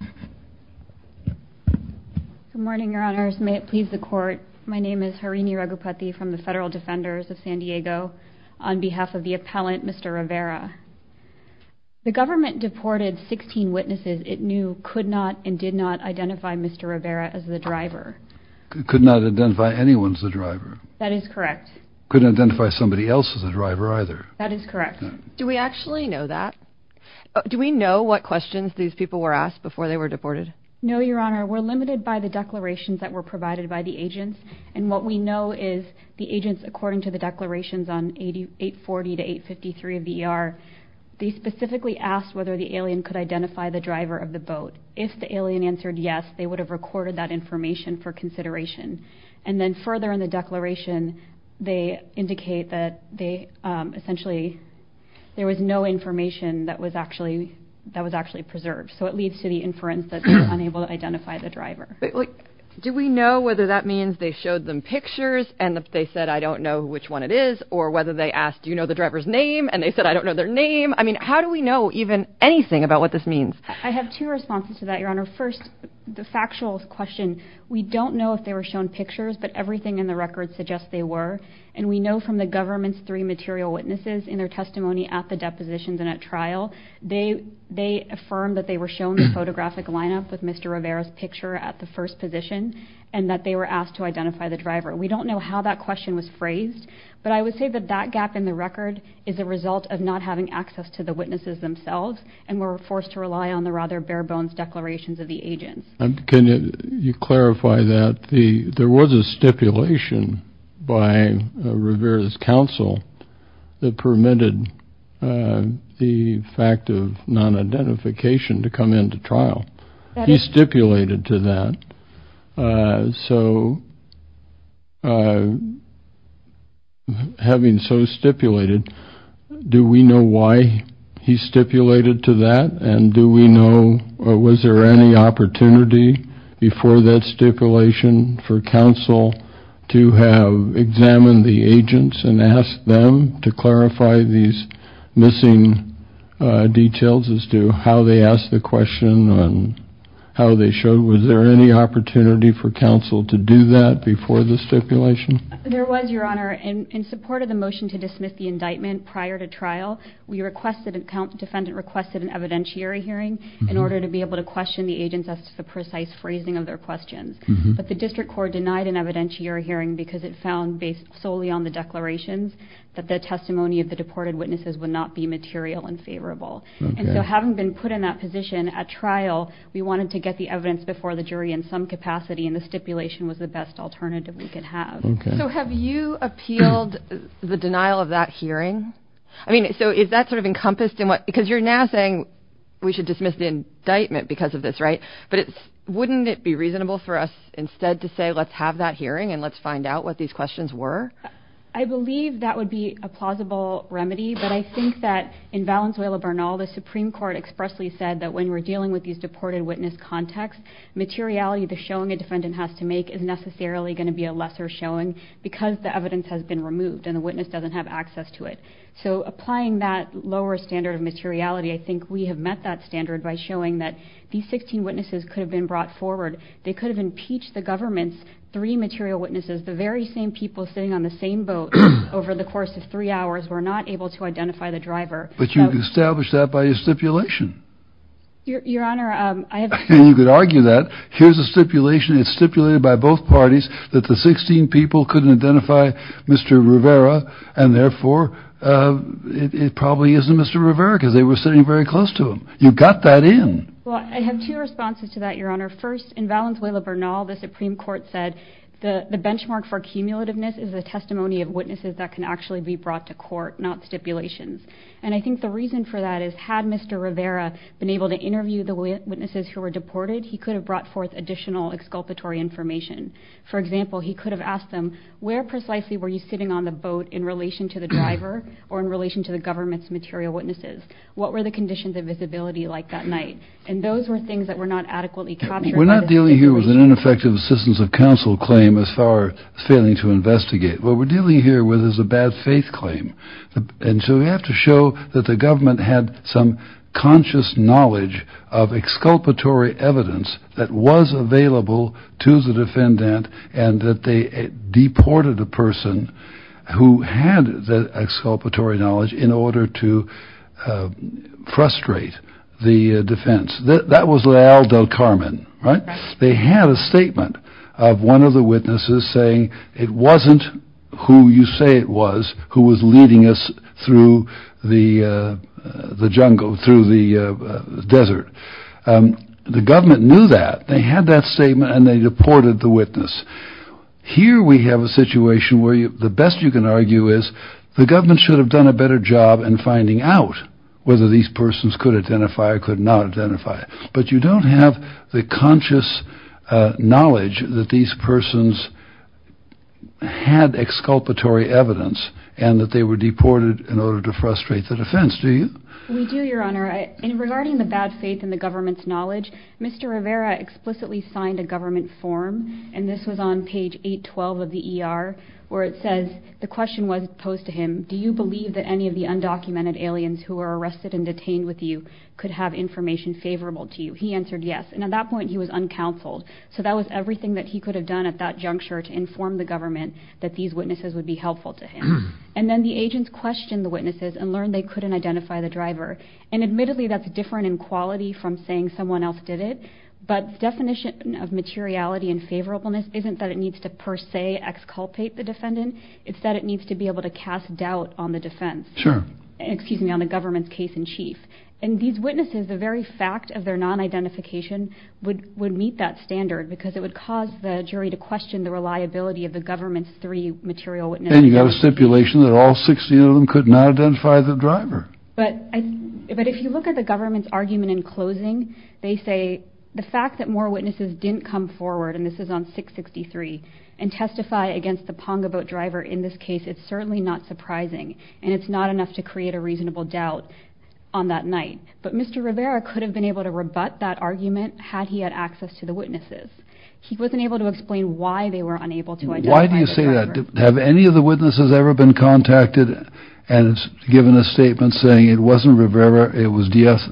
Good morning, Your Honors. May it please the Court, my name is Harini Raghupathy from the Federal Defenders of San Diego on behalf of the appellant, Mr. Rivera. The government deported 16 witnesses it knew could not and did not identify Mr. Rivera as the driver. Could not identify anyone as the driver. That is correct. Couldn't identify somebody else as the driver either. That is correct. Do we actually know that? Do we know what questions these people were asked before they were deported? No, Your Honor. We're limited by the declarations that were provided by the agents. And what we know is the agents, according to the declarations on 840 to 853 of the ER, they specifically asked whether the alien could identify the driver of the boat. If the alien answered yes, they would have recorded that information for consideration. And then further in the declaration, they indicate that they, essentially, there was no information that was actually preserved. So it leads to the inference that they were unable to identify the driver. Do we know whether that means they showed them pictures and they said, I don't know which one it is, or whether they asked, do you know the driver's name? And they said, I don't know their name. I mean, how do we know even anything about what this means? I have two responses to that, Your Honor. First, the factual question, we don't know if they were shown pictures, but everything in the record suggests they were. And we know from the government's three material witnesses in their testimony at the depositions and at trial, they affirmed that they were shown the photographic lineup with Mr. Rivera's picture at the first position, and that they were asked to identify the driver. We don't know how that question was phrased, but I would say that that gap in the record is a result of not having access to the witnesses themselves and were forced to rely on the rather bare-bones declarations of the agents. Can you clarify that? There was a stipulation by Rivera's counsel that permitted the fact of non-identification to come into trial. He stipulated to that. So having so stipulated, do we know why he stipulated to that? And do we know, was there any opportunity before that stipulation for counsel to have examined the agents and asked them to clarify these missing details as to how they asked the question and how they showed? Was there any opportunity for counsel to do that before the stipulation? There was, Your Honor, in support of the motion to dismiss the indictment prior to trial, we requested, the defendant requested an evidentiary hearing in order to be able to question the agents as to the precise phrasing of their questions. But the district court denied an evidentiary hearing because it found, based solely on the declarations, that the testimony of the deported witnesses would not be material and favorable. And so having been put in that position at trial, we wanted to get the evidence before the jury in some capacity, and the stipulation was the best alternative we could have. So have you appealed the denial of that hearing? I mean, so is that sort of encompassed in what, because you're now saying we should dismiss the indictment because of this, right? But it's, wouldn't it be reasonable for us instead to say, let's have that hearing and let's find out what these questions were? I believe that would be a plausible remedy, but I think that in Valenzuela Bernal, the Supreme Court expressly said that when we're dealing with these deported witness context, materiality, the showing a defendant has to the evidence has been removed and the witness doesn't have access to it. So applying that lower standard of materiality, I think we have met that standard by showing that these 16 witnesses could have been brought forward. They could have impeached the government's three material witnesses. The very same people sitting on the same boat over the course of three hours were not able to identify the driver. But you established that by your stipulation. Your Honor, I have, you could argue that here's a stipulation. It's stipulated by both parties that the 16 people couldn't identify Mr. Rivera and therefore it probably isn't Mr. Rivera because they were sitting very close to him. You've got that in. Well, I have two responses to that, your Honor. First in Valenzuela Bernal, the Supreme Court said the benchmark for accumulativeness is the testimony of witnesses that can actually be brought to court, not stipulations. And I think the reason for that is had Mr. Rivera been able to interview the witnesses who were there, for example, he could have asked them, where precisely were you sitting on the boat in relation to the driver or in relation to the government's material witnesses? What were the conditions of visibility like that night? And those were things that were not adequately captured. We're not dealing here with an ineffective assistance of counsel claim as far as failing to investigate. What we're dealing here with is a bad faith claim. And so we have to show that the government had some conscious knowledge of exculpatory evidence that was available to the defendant and that they deported a person who had the exculpatory knowledge in order to frustrate the defense. That was Lael Del Carmen, right? They had a statement of one of the witnesses saying it wasn't who you say it was who was leading us through the jungle, through the desert. The government knew that. They had that statement and they deported the witness. Here we have a situation where the best you can argue is the government should have done a better job in finding out whether these persons could identify or could not identify. But you don't have the conscious knowledge that these persons had exculpatory evidence and that they were deported in order to frustrate the defense, do you? We do, Your Honor. Regarding the bad faith and the government's knowledge, Mr. Rivera explicitly signed a government form, and this was on page 812 of the ER, where it says, the question was posed to him, do you believe that any of the undocumented aliens who were arrested and detained with you could have information favorable to you? He answered yes, and at that point he was uncounseled. So that was everything that he could have done at that juncture to inform the government that these witnesses would be helpful to him. And then the agents questioned the witnesses and learned they couldn't identify the driver. And admittedly, that's different in quality from saying someone else did it, but the definition of materiality and favorableness isn't that it needs to per se exculpate the defendant, it's that it needs to be able to cast doubt on the defense, excuse me, on the government's case in chief. And these witnesses, the very fact of their non-identification would meet that standard because it would cause the jury to question the reliability of the government's three material witnesses. And you got a stipulation that all 16 of them could not identify the driver. But if you look at the government's argument in closing, they say the fact that more witnesses didn't come forward, and this is on 663, and testify against the Ponga boat driver in this case, it's certainly not surprising, and it's not enough to create a reasonable doubt on that night. But Mr. Rivera could have been able to rebut that argument had he had access to the witnesses. He wasn't able to explain why they were unable to identify the driver. Why do you say that? Have any of the witnesses ever been contacted and given a statement saying it wasn't Rivera, it was Diaz?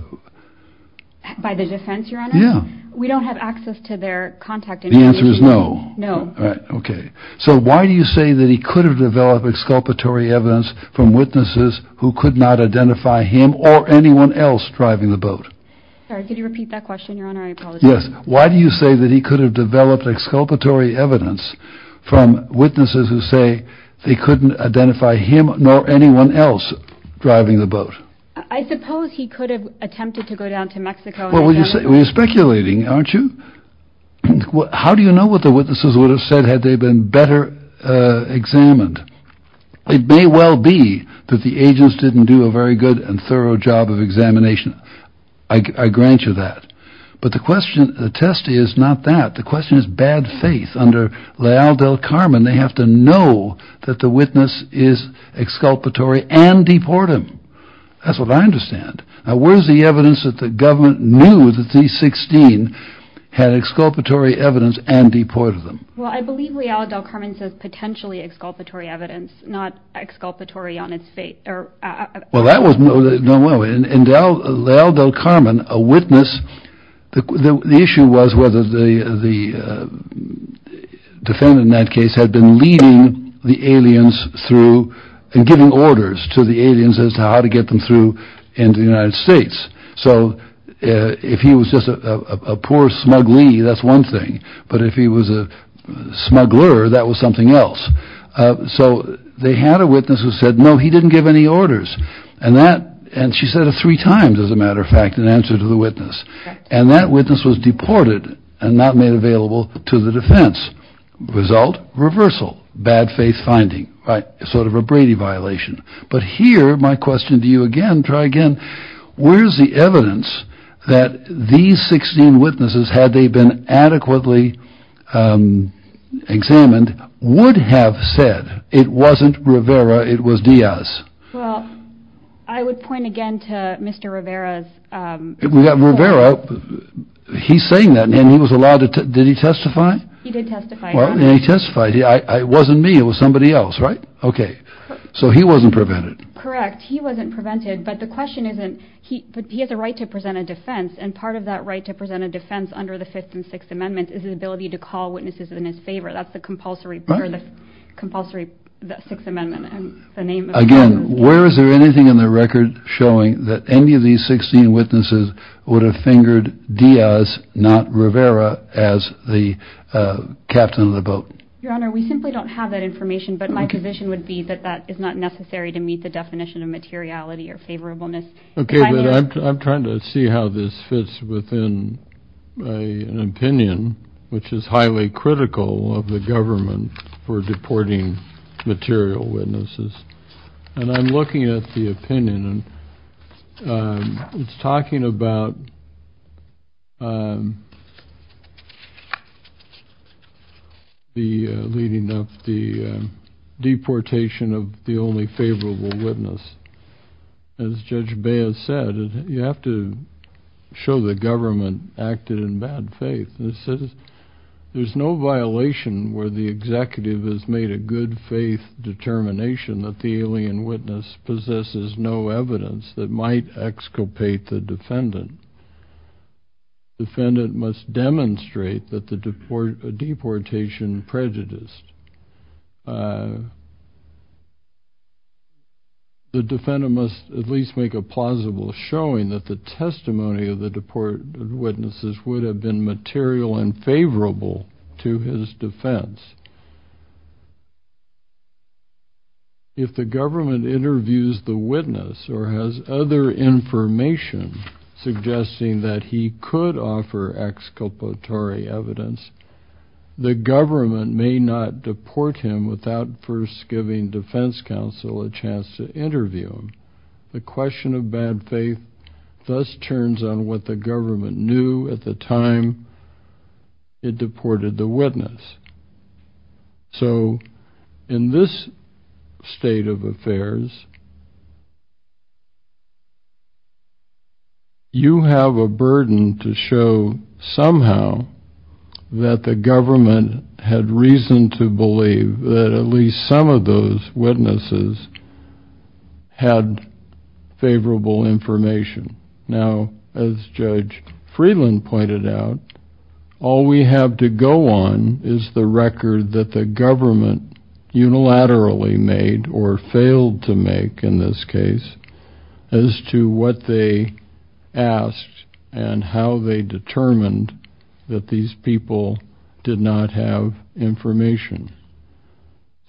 By the defense, Your Honor? Yeah. We don't have access to their contact information. The answer is no. No. All right. Okay. So why do you say that he could have developed exculpatory evidence from witnesses who could not identify him or anyone else driving the boat? Sorry, could you repeat that question, Your Honor? I apologize. Yes. Why do you say that he could have developed exculpatory evidence from witnesses who say they couldn't identify him nor anyone else driving the boat? I suppose he could have attempted to go down to Mexico and attempt to... You're speculating, aren't you? How do you know what the witnesses would have said had they been better examined? It may well be that the agents didn't do a very good and thorough job of examination. I grant you that. But the question, the test is not that. The question is bad faith. Under Leal del Carmen, they have to know that the witness is exculpatory and deport him. That's what I understand. Now, where's the evidence that the government knew that the 16 had exculpatory evidence and deported them? Well, I believe Leal del Carmen says potentially exculpatory evidence, not exculpatory on its fate. Well, that was no, no, no. And Leal del Carmen, a witness, the issue was whether the defendant in that case had been leading the aliens through and giving orders to the aliens as to how to get them through into the United States. So if he was just a poor smuggler, that's one thing. But if he was a smuggler, that was something else. So they had a witness who said, no, he didn't give any orders. And that and she said it three times, as a matter of fact, in answer to the witness. And that witness was deported and not made available to the defense. Result, reversal, bad faith finding. Right. Sort of a Brady violation. But here, my question to you again, try again. Where's the evidence that these 16 witnesses, had they been adequately examined, would have said it wasn't Rivera, it was Diaz? Well, I would point again to Mr. Rivera's. We have Rivera. He's saying that he was allowed to. Did he testify? He did testify. Well, he testified. It wasn't me. It was somebody else. Right. OK. So he wasn't prevented. Correct. He wasn't prevented. But the question isn't he. But he has the right to present a defense. And part of that right to present a defense under the Fifth and Sixth Amendment is his ability to call witnesses in his favor. That's the compulsory, compulsory Sixth Amendment and the name. Again, where is there anything in the record showing that any of these 16 witnesses would have fingered Diaz, not Rivera, as the captain of the boat? Your Honor, we simply don't have that information. But my position would be that that is not necessary to meet the definition of materiality or favorableness. OK. I'm trying to see how this fits within an opinion which is highly critical of the government for deporting material witnesses. And I'm looking at the opinion and it's talking about the leading up the deportation of the only favorable witness. As Judge Baez said, you have to show the government acted in bad faith. And it says, there's no violation where the executive has made a good faith determination that the alien witness possesses no evidence that might exculpate the defendant. The defendant must demonstrate that the deportation prejudiced. The defendant must at least make a plausible showing that the testimony of the deported witnesses would have been material and favorable to his defense. If the government interviews the witness or has other information suggesting that he could offer exculpatory evidence, the government may not deport him without first giving defense counsel a chance to interview him. The question of bad faith thus turns on what the government knew at the time it was made. You have a burden to show somehow that the government had reason to believe that at least some of those witnesses had favorable information. Now, as Judge Freeland pointed out, all we have to go on is the record that the government unilaterally made or failed to make, in this case, as to what they asked and how they determined that these people did not have information.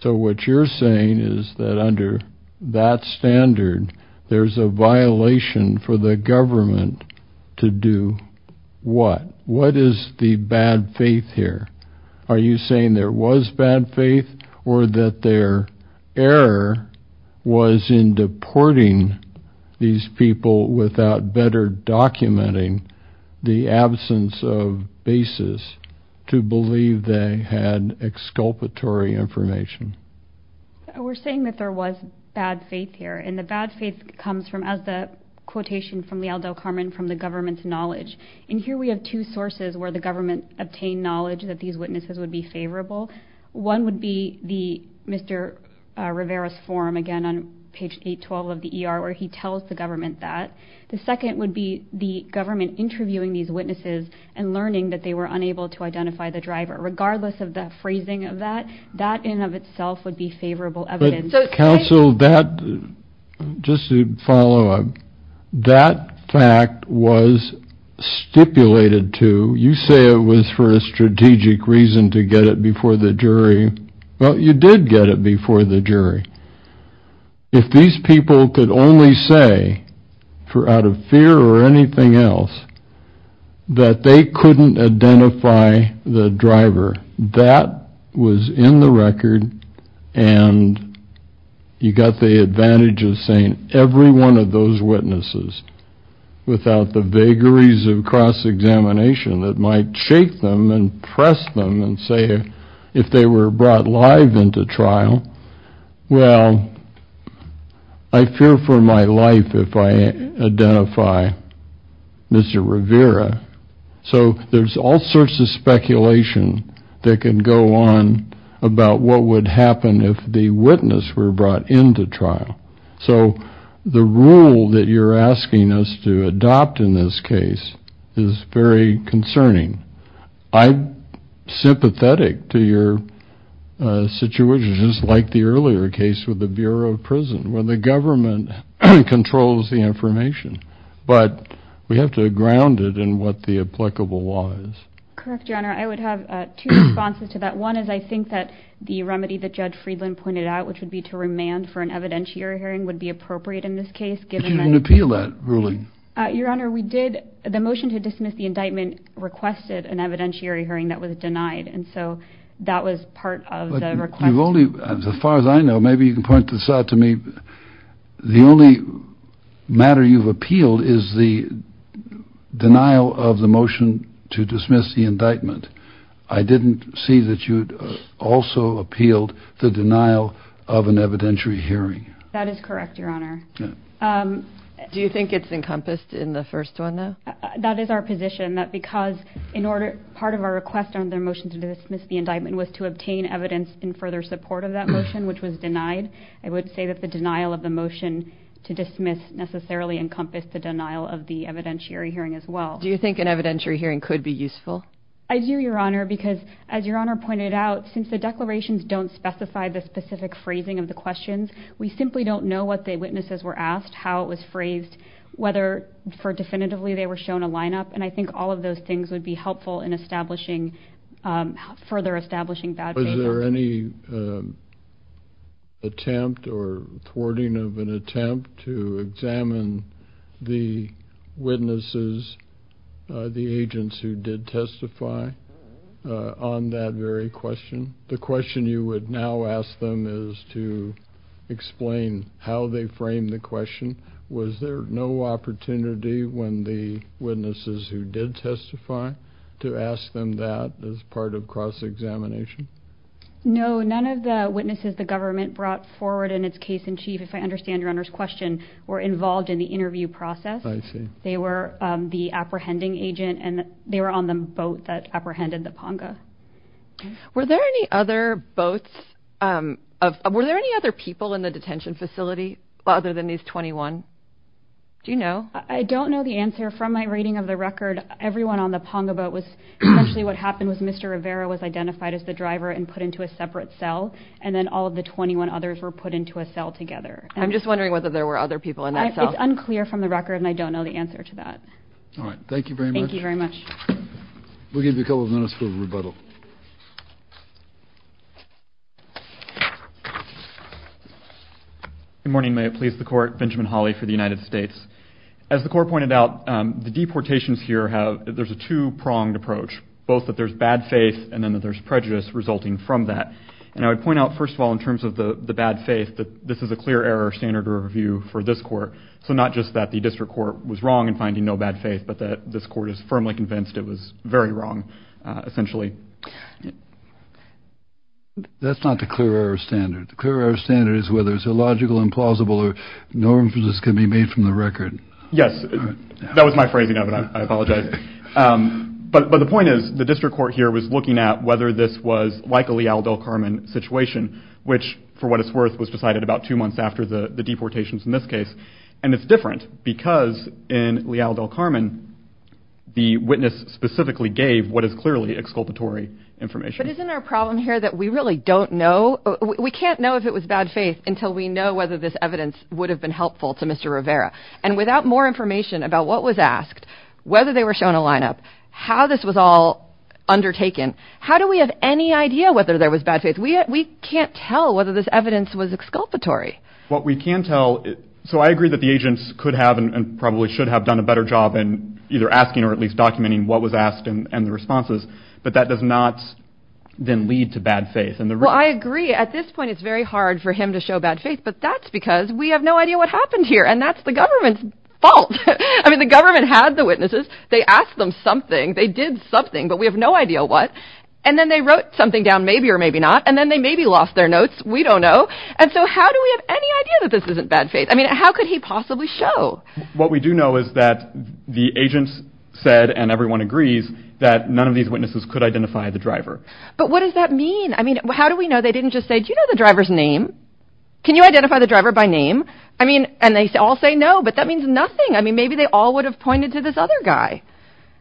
So what you're saying is that under that standard, there's a violation for the government to do what? What is the bad faith here? Are you saying there was bad faith? The error was in deporting these people without better documenting the absence of basis to believe they had exculpatory information. We're saying that there was bad faith here, and the bad faith comes from, as the quotation from Leal del Carmen, from the government's knowledge. And here we have two sources where the government obtained knowledge that these on page 812 of the ER where he tells the government that. The second would be the government interviewing these witnesses and learning that they were unable to identify the driver. Regardless of the phrasing of that, that in and of itself would be favorable evidence. But counsel, that, just to follow up, that fact was stipulated to, you say it was for a strategic reason to get it before the jury. Well, you did get it before the jury. If these people could only say, out of fear or anything else, that they couldn't identify the driver, that was in the record and you got the advantage of saying every one of those witnesses without the vagaries of cross-examination that might shake them and press them and say if they were brought live into trial, well, I fear for my life if I identify Mr. Rivera. So there's all sorts of speculation that can go on about what would happen if the witness were brought into trial. So the rule that you're concerning, I'm sympathetic to your situation, just like the earlier case with the Bureau of Prison where the government controls the information. But we have to ground it in what the applicable law is. Correct, Your Honor. I would have two responses to that. One is I think that the remedy that Judge Friedland pointed out, which would be to remand for an evidentiary hearing, would be appropriate in this case. You didn't appeal that ruling. Your Honor, the motion to dismiss the indictment requested an evidentiary hearing that was denied and so that was part of the request. As far as I know, maybe you can point this out to me, the only matter you've appealed is the denial of the motion to dismiss the indictment. I didn't see that you'd also appealed the denial of an evidentiary hearing. That is correct, Your Honor. Do you think it's encompassed in the first one, though? That is our position, that because part of our request on the motion to dismiss the indictment was to obtain evidence in further support of that motion, which was denied, I would say that the denial of the motion to dismiss necessarily encompassed the denial of the evidentiary hearing as well. Do you think an evidentiary hearing could be useful? I do, Your Honor, because as Your Honor pointed out, since the declarations don't specify the specific phrasing of the questions, we simply don't know what the witnesses were asked, how it was phrased, whether definitively they were shown a lineup, and I think all of those things would be helpful in further establishing that. Was there any attempt or thwarting of an attempt to examine the witnesses, the agents who did testify, on that very question? The question you would now ask them is to explain how they framed the question. Was there no opportunity when the witnesses who did testify to ask them that as part of cross-examination? No, none of the witnesses the government brought forward in its case-in-chief, if I understand Your Honor's question, were involved in the interview process. They were the apprehending agent, and they were on the boat that apprehended the Ponga. Were there any other boats, were there any other people in the detention facility other than these 21? Do you know? I don't know the answer. From my reading of the record, everyone on the Ponga boat was, especially what happened was Mr. Rivera was identified as the driver and put into a separate cell, and then all of the 21 others were put into a cell together. I'm just wondering whether there were other people in that cell. It's unclear from the record, and I don't know the answer to that. All right, thank you very much. Thank you very much. We'll give you a couple of minutes for rebuttal. Good morning, may it please the Court, Benjamin Hawley for the United States. As the Court pointed out, the deportations here have, there's a two-pronged approach, both that there's bad faith and then that there's prejudice resulting from that. And I would point out, first of all, in terms of the bad faith, that this is a clear error standard review for this Court. So not just that the District Court was wrong in finding no bad faith, but that this Court is firmly convinced it was very wrong, essentially. That's not the clear error standard. The clear error standard is whether it's illogical, implausible, or no inferences can be made from the record. Yes, that was my phrasing of it, I apologize. But the point is, the District Court here was looking at whether this was like a Leal del Carmen situation, which, for what it's worth, was decided about two months after the deportations in this case. And it's different, because in Leal del Carmen, the witness specifically gave what is clearly exculpatory information. But isn't our problem here that we really don't know, we can't know if it was bad faith until we know whether this evidence would have been helpful to Mr. Rivera. And without more information about what was asked, whether they were shown a lineup, how this was all undertaken, how do we have any idea whether there was bad faith? We can't tell whether this evidence was exculpatory. What we can tell, so I agree that the agents could have and probably should have done a better job in either asking or at least documenting what was asked and the responses. But that does not then lead to bad faith. Well, I agree. At this point, it's very hard for him to show bad faith. But that's because we have no idea what happened here. And that's the government's fault. I mean, the government had the witnesses, they asked them something, they did something, but we have no idea what. And then they wrote something down, maybe or maybe not. And then they maybe lost their notes. We don't know. And so how do we have any idea that this isn't bad faith? I mean, how could he possibly show what we do know is that the agents said, and everyone agrees that none of these witnesses could identify the driver. But what does that mean? I mean, how do we know they didn't just say, do you know the driver's name? Can you identify the driver by name? I mean, and they all say no, but that means nothing. I mean, maybe they all would have pointed to this other guy.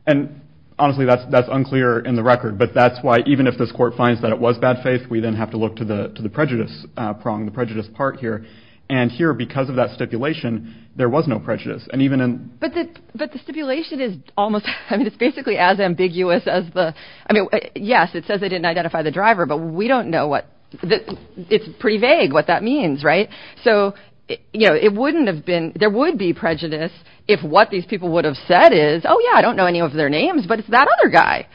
And honestly, that's that's unclear in the record. But that's why even if this court finds that it was bad faith, we then have to look to the to the prejudice prong the prejudice part here. And here because of that stipulation, there was no prejudice and even in but the but the stipulation is almost, I mean, it's basically as ambiguous as the I mean, yes, it says they didn't identify the driver, but we don't know what that it's pretty vague what that means. Right. So, you know, it wouldn't have been there would be prejudice. If what these people would have said is, oh, yeah, I don't know any of their names, but it's that other guy.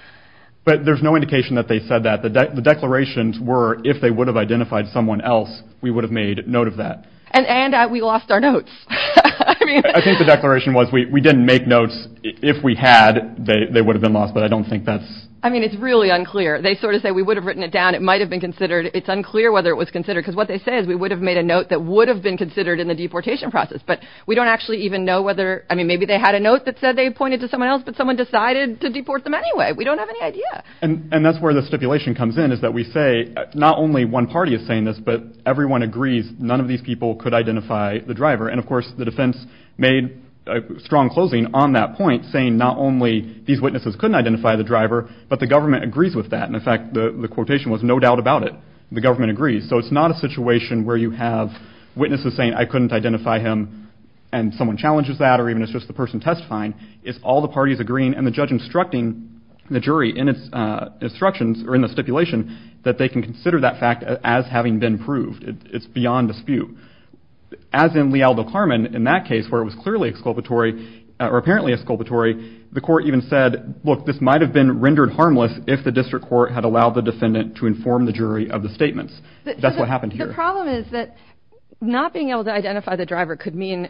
But there's no indication that they said that the declarations were if they would have identified someone else, we would have made note of that. And and we lost our notes. I think the declaration was we didn't make notes. If we had they would have been lost. But I don't think that's I mean, it's really unclear. They sort of say we would have written it down. It might have been considered it's unclear whether it was considered because what they say is we would have made a note that would have been considered in the deportation process. But we don't actually even know whether I mean, maybe they had a note that said they pointed to someone else, but someone decided to deport them anyway. We don't have any idea. And that's where the stipulation comes in is that we say not only one party is saying this, but everyone agrees none of these people could identify the driver. And of course, the defense made a strong closing on that point saying not only these witnesses couldn't identify the driver, but the government agrees with that. And in fact, the quotation was no doubt about it. The government agrees. So it's not a situation where you have witnesses saying I couldn't identify him and someone challenges that or even it's just the person testifying. It's all the parties agreeing and the judge instructing the jury in its instructions or in the stipulation that they can consider that fact as having been proved. It's beyond dispute. As in Leal v. Carman, in that case where it was clearly exculpatory or apparently exculpatory, the court even said, look, this might have been rendered harmless if the district court had allowed the defendant to inform the jury of the that's what happened here. The problem is that not being able to identify the driver could mean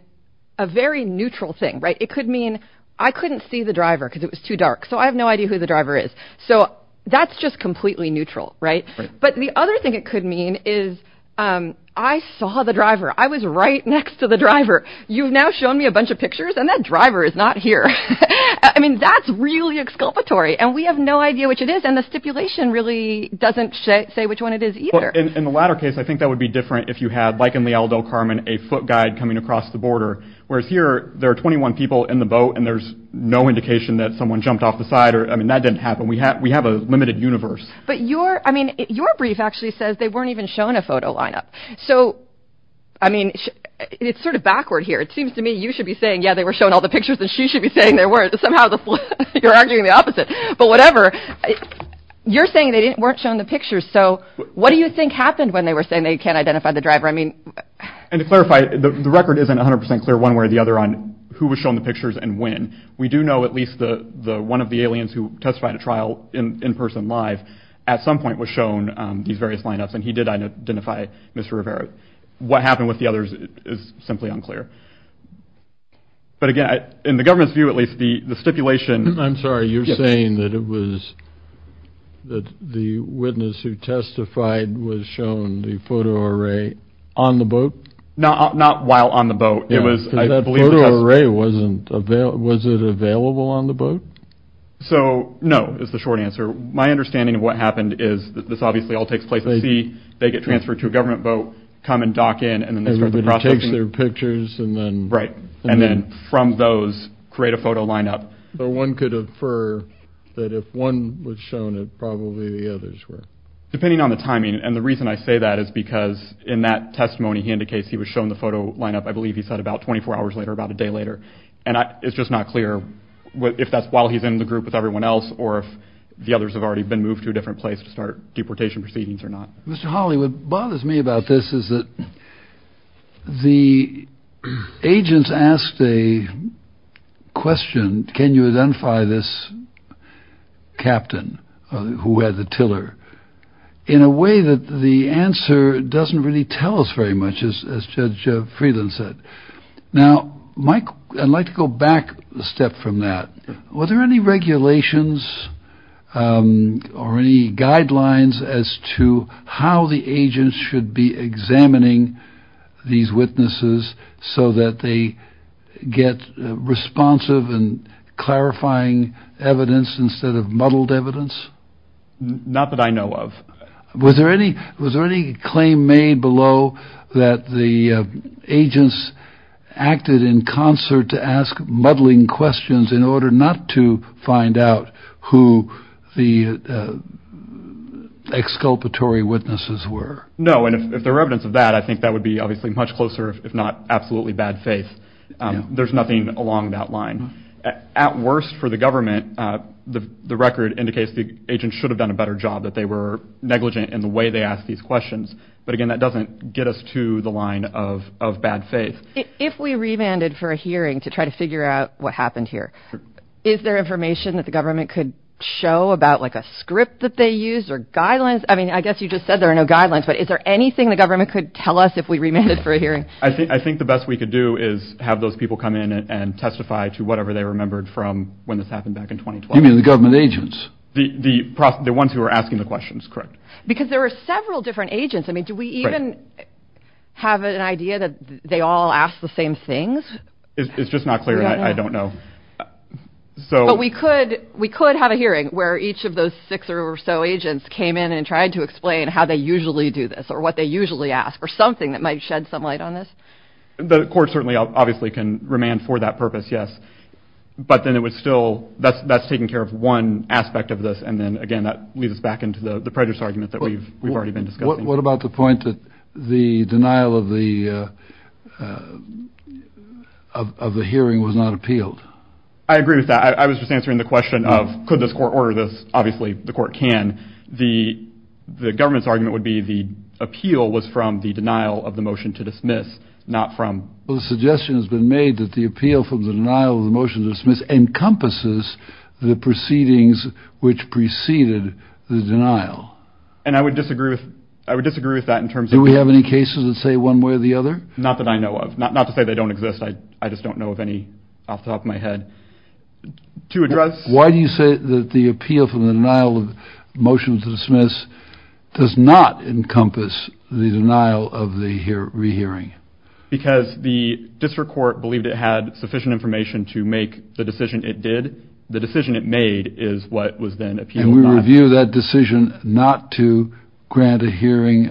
a very neutral thing. Right. It could mean I couldn't see the driver because it was too dark. So I have no idea who the driver is. So that's just completely neutral. Right. But the other thing it could mean is I saw the driver. I was right next to the driver. You've now shown me a bunch of pictures and that driver is not here. I mean, that's really exculpatory. And we have no idea which it is. And the stipulation really doesn't say which one it is either. In the latter case, I think that would be different if you had, like in Leal v. Carman, a foot guide coming across the border, whereas here there are 21 people in the boat and there's no indication that someone jumped off the side. I mean, that didn't happen. We have we have a limited universe. But your I mean, your brief actually says they weren't even shown a photo lineup. So I mean, it's sort of backward here. It seems to me you should be saying, yeah, they were shown all the pictures that she should be saying. There were somehow you're arguing the opposite. But whatever you're saying, they weren't shown the pictures. So what do you think happened when they were saying they can't identify the driver? I mean, and to clarify, the record isn't 100 percent clear one way or the other on who was shown the pictures and when we do know at least the the one of the aliens who testified a trial in person live at some point was shown these various lineups. And he did identify Mr. Rivera. What happened with the others is simply unclear. But again, in the government's view, at least the stipulation, I'm sorry, you're saying that it was that the witness who testified was shown the photo array on the boat, not not while on the boat. It was I believe array wasn't available. Was it available on the boat? So no, it's the short answer. My understanding of what happened is that this obviously all takes place. See, they get transferred to a government boat, come and dock in and then everybody takes their pictures. And then right. And then from those create a photo lineup. But one could infer that if one was shown, it probably the others were depending on the timing. And the reason I say that is because in that testimony, he indicates he was shown the photo lineup. I believe he said about 24 hours later, about a day later. And it's just not clear if that's while he's in the group with everyone else or if the others have already been moved to a different place to start deportation proceedings or not. Mr. Holly, what bothers me about this is that the agents asked a question. Can you identify this captain who had the tiller in a way that the answer doesn't really tell us very much, as Judge Friedland said? Now, Mike, I'd like to go back a step from that. Were there any regulations or any guidelines as to how the agents should be examining these witnesses so that they get responsive and clarifying evidence instead of muddled evidence? Not that I know of. Was there any was there any claim made below that the agents acted in concert to ask muddling questions in order not to find out who the exculpatory witnesses were? No. And if there were evidence of that, I think that would be obviously much closer, if not absolutely bad faith. There's nothing along that line. At worst for the government, the record indicates the agents should have done a better job, that they were negligent in the way they asked these questions. But again, that doesn't get us to the line of bad faith. If we remanded for a hearing to try to figure out what happened here, is there information that the government could show about like a script that they use or guidelines? I mean, I guess you just said there are no guidelines, but is there anything the government could tell us if we remanded for a hearing? I think I think the best we could do is have those people come in and testify to whatever they remembered from when this happened back in 2012. You mean the government agents? The ones who were asking the questions? Correct. Because there were several different agents. I mean, do we even have an idea that they all asked the same things? It's just not clear. I don't know. So we could we could have a hearing where each of those six or so agents came in and tried to explain how they usually do this or what they usually ask or something that might shed some light on this. The court certainly obviously can remand for that purpose. Yes. But then it was still that's that's back into the prejudice argument that we've we've already been discussing. What about the point that the denial of the of the hearing was not appealed? I agree with that. I was just answering the question of could this court order this? Obviously, the court can. The the government's argument would be the appeal was from the denial of the motion to dismiss, not from the suggestion has been made that the appeal from the denial of the motion to dismiss encompasses the proceedings which preceded the denial. And I would disagree with I would disagree with that in terms of do we have any cases that say one way or the other? Not that I know of. Not not to say they don't exist. I just don't know of any off the top of my head to address. Why do you say that the appeal from the denial of motion to dismiss does not encompass the denial of the hearing? Because the district court believed it had sufficient information to make the decision it did. The was then appealed. And we review that decision not to grant a hearing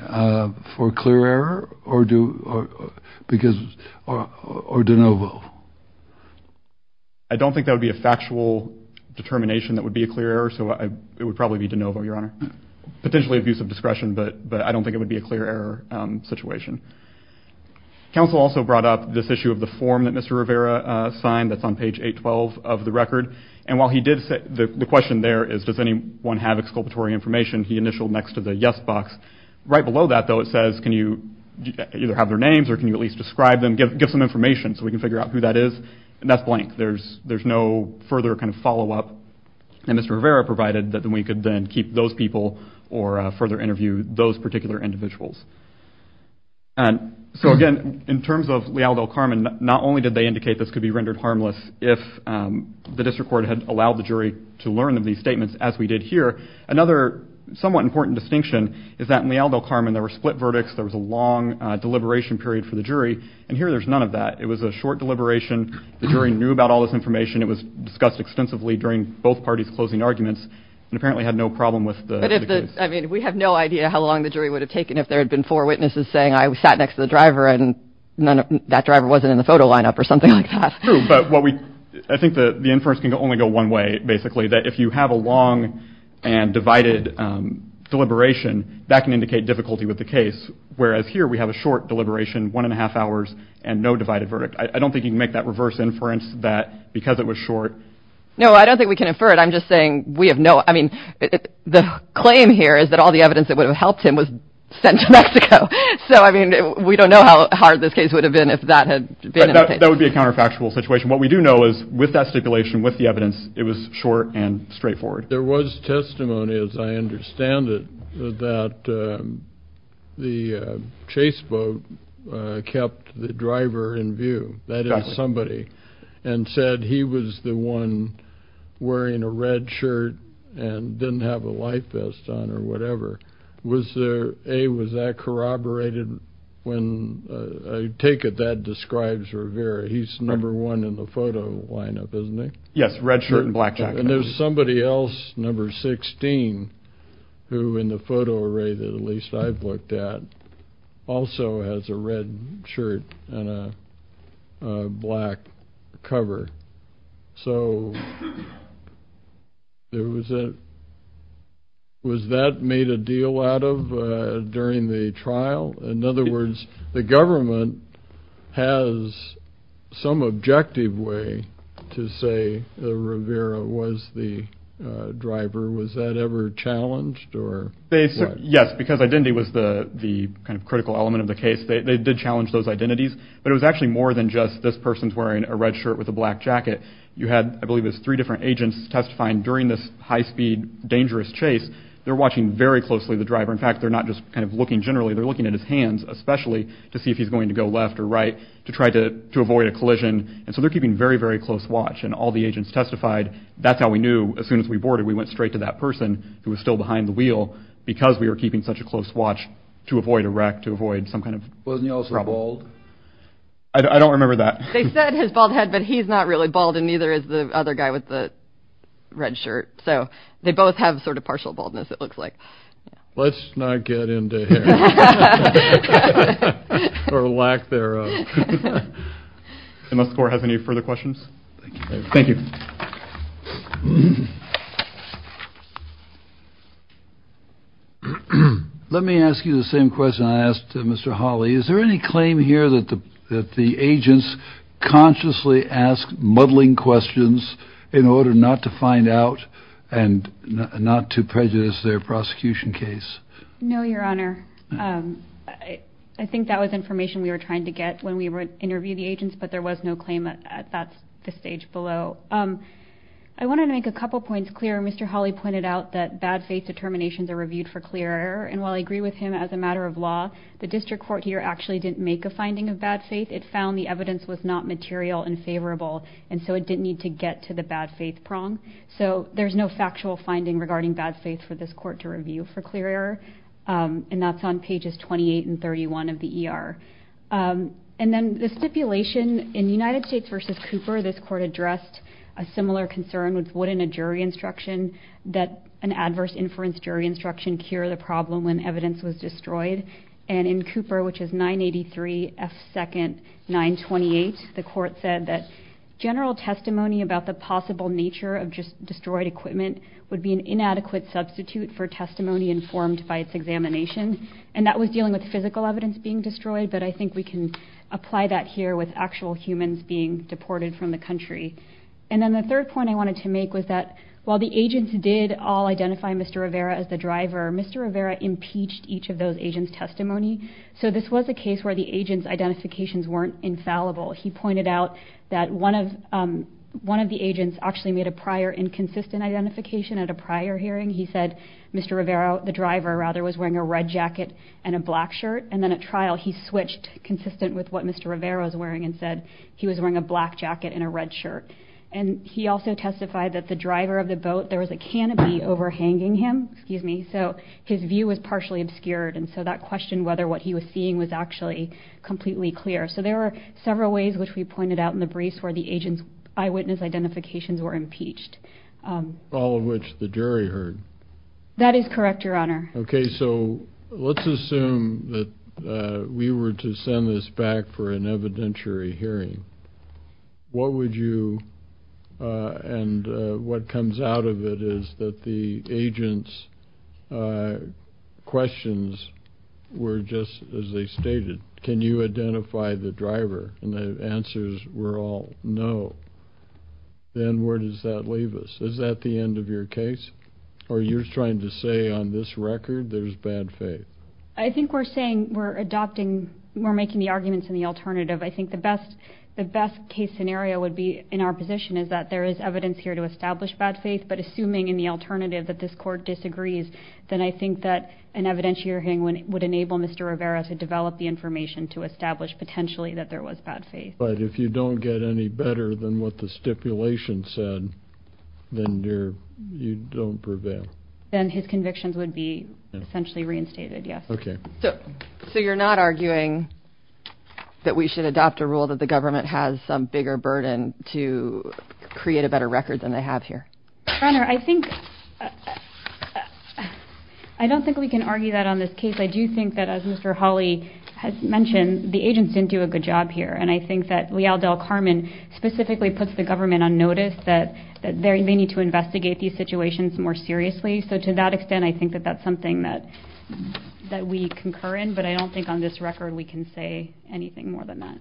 for clear error or do because or de novo? I don't think that would be a factual determination that would be a clear error. So it would probably be de novo, Your Honor. Potentially abuse of discretion, but but I don't think it would be a clear error situation. Counsel also brought up this issue of the form that Mr. Rivera signed that's on page 812 of the record. And while he did say the question there is does anyone have exculpatory information? He initialed next to the yes box. Right below that though it says can you either have their names or can you at least describe them? Give some information so we can figure out who that is. And that's blank. There's there's no further kind of follow-up. And Mr. Rivera provided that we could then keep those people or further interview those particular individuals. And so again in terms of Leal del Carmen not only did they indicate this could be rendered harmless if the district court had allowed the jury to learn of these statements as we did here. Another somewhat important distinction is that in Leal del Carmen there were split verdicts. There was a long deliberation period for the jury. And here there's none of that. It was a short deliberation. The jury knew about all this information. It was discussed extensively during both parties closing arguments and apparently had no problem with the case. I mean we have no idea how long the jury would have taken if there had been four witnesses saying I sat next to the driver and none of that driver wasn't in the photo lineup or something like that. But what we I think the the inference can only go one way basically that if you have a long and divided deliberation that can indicate difficulty with the case. Whereas here we have a short deliberation one and a half hours and no divided verdict. I don't think you can make that reverse inference that because it was short. No I don't think we can infer it. I'm just saying we have no I mean the claim here is that all the evidence that would have helped him was sent to Mexico. So I mean we don't know how hard this case would have been if that had been that would be a counterfactual situation. What we do know is with that stipulation with the evidence it was short and straightforward. There was testimony as I understand it that the chase boat kept the driver in view. That is somebody and said he was the one wearing a red shirt and didn't have a life vest on or whatever. Was there a was that corroborated when I take it that describes Rivera he's number one in the photo lineup isn't it? Yes red shirt and black jacket. And there's somebody else number 16 who in the photo array that at least I've looked at also has a red shirt and a black cover. So there was a was that made a deal out of during the trial? In other words the government has some objective way to say that Rivera was the driver. Was that ever challenged? Yes because identity was the the kind of critical element of the case. They did challenge those identities but it was actually more than just this person's wearing a red shirt with a black jacket. You had I believe it's three different agents testifying during this high-speed dangerous chase. They're watching very closely the driver. In fact they're not just kind of looking generally they're looking at his hands especially to see if he's going to go left or right to try to to avoid a collision. And so they're keeping very very close watch and all the agents testified that's how we knew as soon as we boarded we went straight to that person who was still behind the wheel because we were keeping such a close watch to avoid a wreck to avoid some kind of problem. Wasn't he also bald? I don't remember that. They said his bald head but he's not really bald and neither is the other guy with the red shirt. So they both have sort of partial baldness it looks like. Let's not get into here or lack thereof. Mr. Gore has any further questions? Thank you. Let me ask you the same question I asked Mr. Hawley. Is there any claim here that the that the agents consciously ask muddling questions in order not to find out and not to prejudice their prosecution case? No your honor. I think that was information we were trying to get when we were interviewing the agents but there was no claim at that stage below. I wanted to make a couple points clear. Mr. Hawley pointed out that bad faith determinations are reviewed for clear error and while I agree with him as a matter of law the district court here actually didn't make a finding of bad faith. It found the evidence was not material and favorable and so it didn't need to get to the bad faith prong. So there's no factual finding regarding bad faith for this court to review for clear error and that's on pages 28 and 31 of the ER. And then the stipulation in United States versus Cooper this court addressed a similar concern with what in a jury instruction that an adverse inference jury instruction cure the problem when general testimony about the possible nature of just destroyed equipment would be an inadequate substitute for testimony informed by its examination and that was dealing with physical evidence being destroyed but I think we can apply that here with actual humans being deported from the country. And then the third point I wanted to make was that while the agents did all identify Mr. Rivera as the driver, Mr. Rivera impeached each of those agents testimony so this was a case where the agent's identifications weren't infallible. He pointed out that one of one of the agents actually made a prior inconsistent identification at a prior hearing. He said Mr. Rivera the driver rather was wearing a red jacket and a black shirt and then at trial he switched consistent with what Mr. Rivera was wearing and said he was wearing a black jacket and a red shirt and he also testified that the driver of the boat there was a canopy overhanging him excuse me so his view was partially obscured and so that question whether what he was seeing was actually completely clear. So there are several ways which we pointed out in the briefs where the agent's eyewitness identifications were impeached. All of which the jury heard. That is correct your honor. Okay so let's assume that we were to send this back for an evidentiary hearing. What would you and what comes out of it is that the agent's questions were just as they stated can you identify the driver and the answers were all no. Then where does that leave us? Is that the end of your case or you're trying to say on this record there's bad faith? I think we're saying we're adopting we're making the arguments in the alternative. I think the best the best case scenario would be in our position is that there is evidence here to establish bad faith but assuming in the alternative that this court disagrees then I think that an evidentiary would enable Mr. Rivera to develop the information to establish potentially that there was bad faith. But if you don't get any better than what the stipulation said then you're you don't prevail. Then his convictions would be essentially reinstated yes. Okay so so you're not arguing that we should adopt a rule that the government has some bigger burden to create a better record than they have here. Your honor I think uh I don't think we can argue that on this case. I do think that as Mr. Hawley has mentioned the agents didn't do a good job here and I think that Leal Del Carmen specifically puts the government on notice that that they need to investigate these situations more seriously. So to that extent I think that that's something that that we concur in but I don't think on this record we can say anything more than that.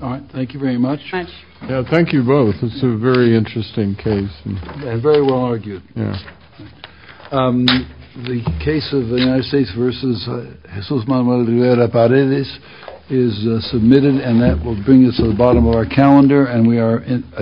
All right thank you very much. Yeah thank you both it's a very interesting case and very well argued. Yeah the case of the United States versus Jesus Manuel Rivera Paredes is submitted and that will bring us to the bottom of our calendar and we are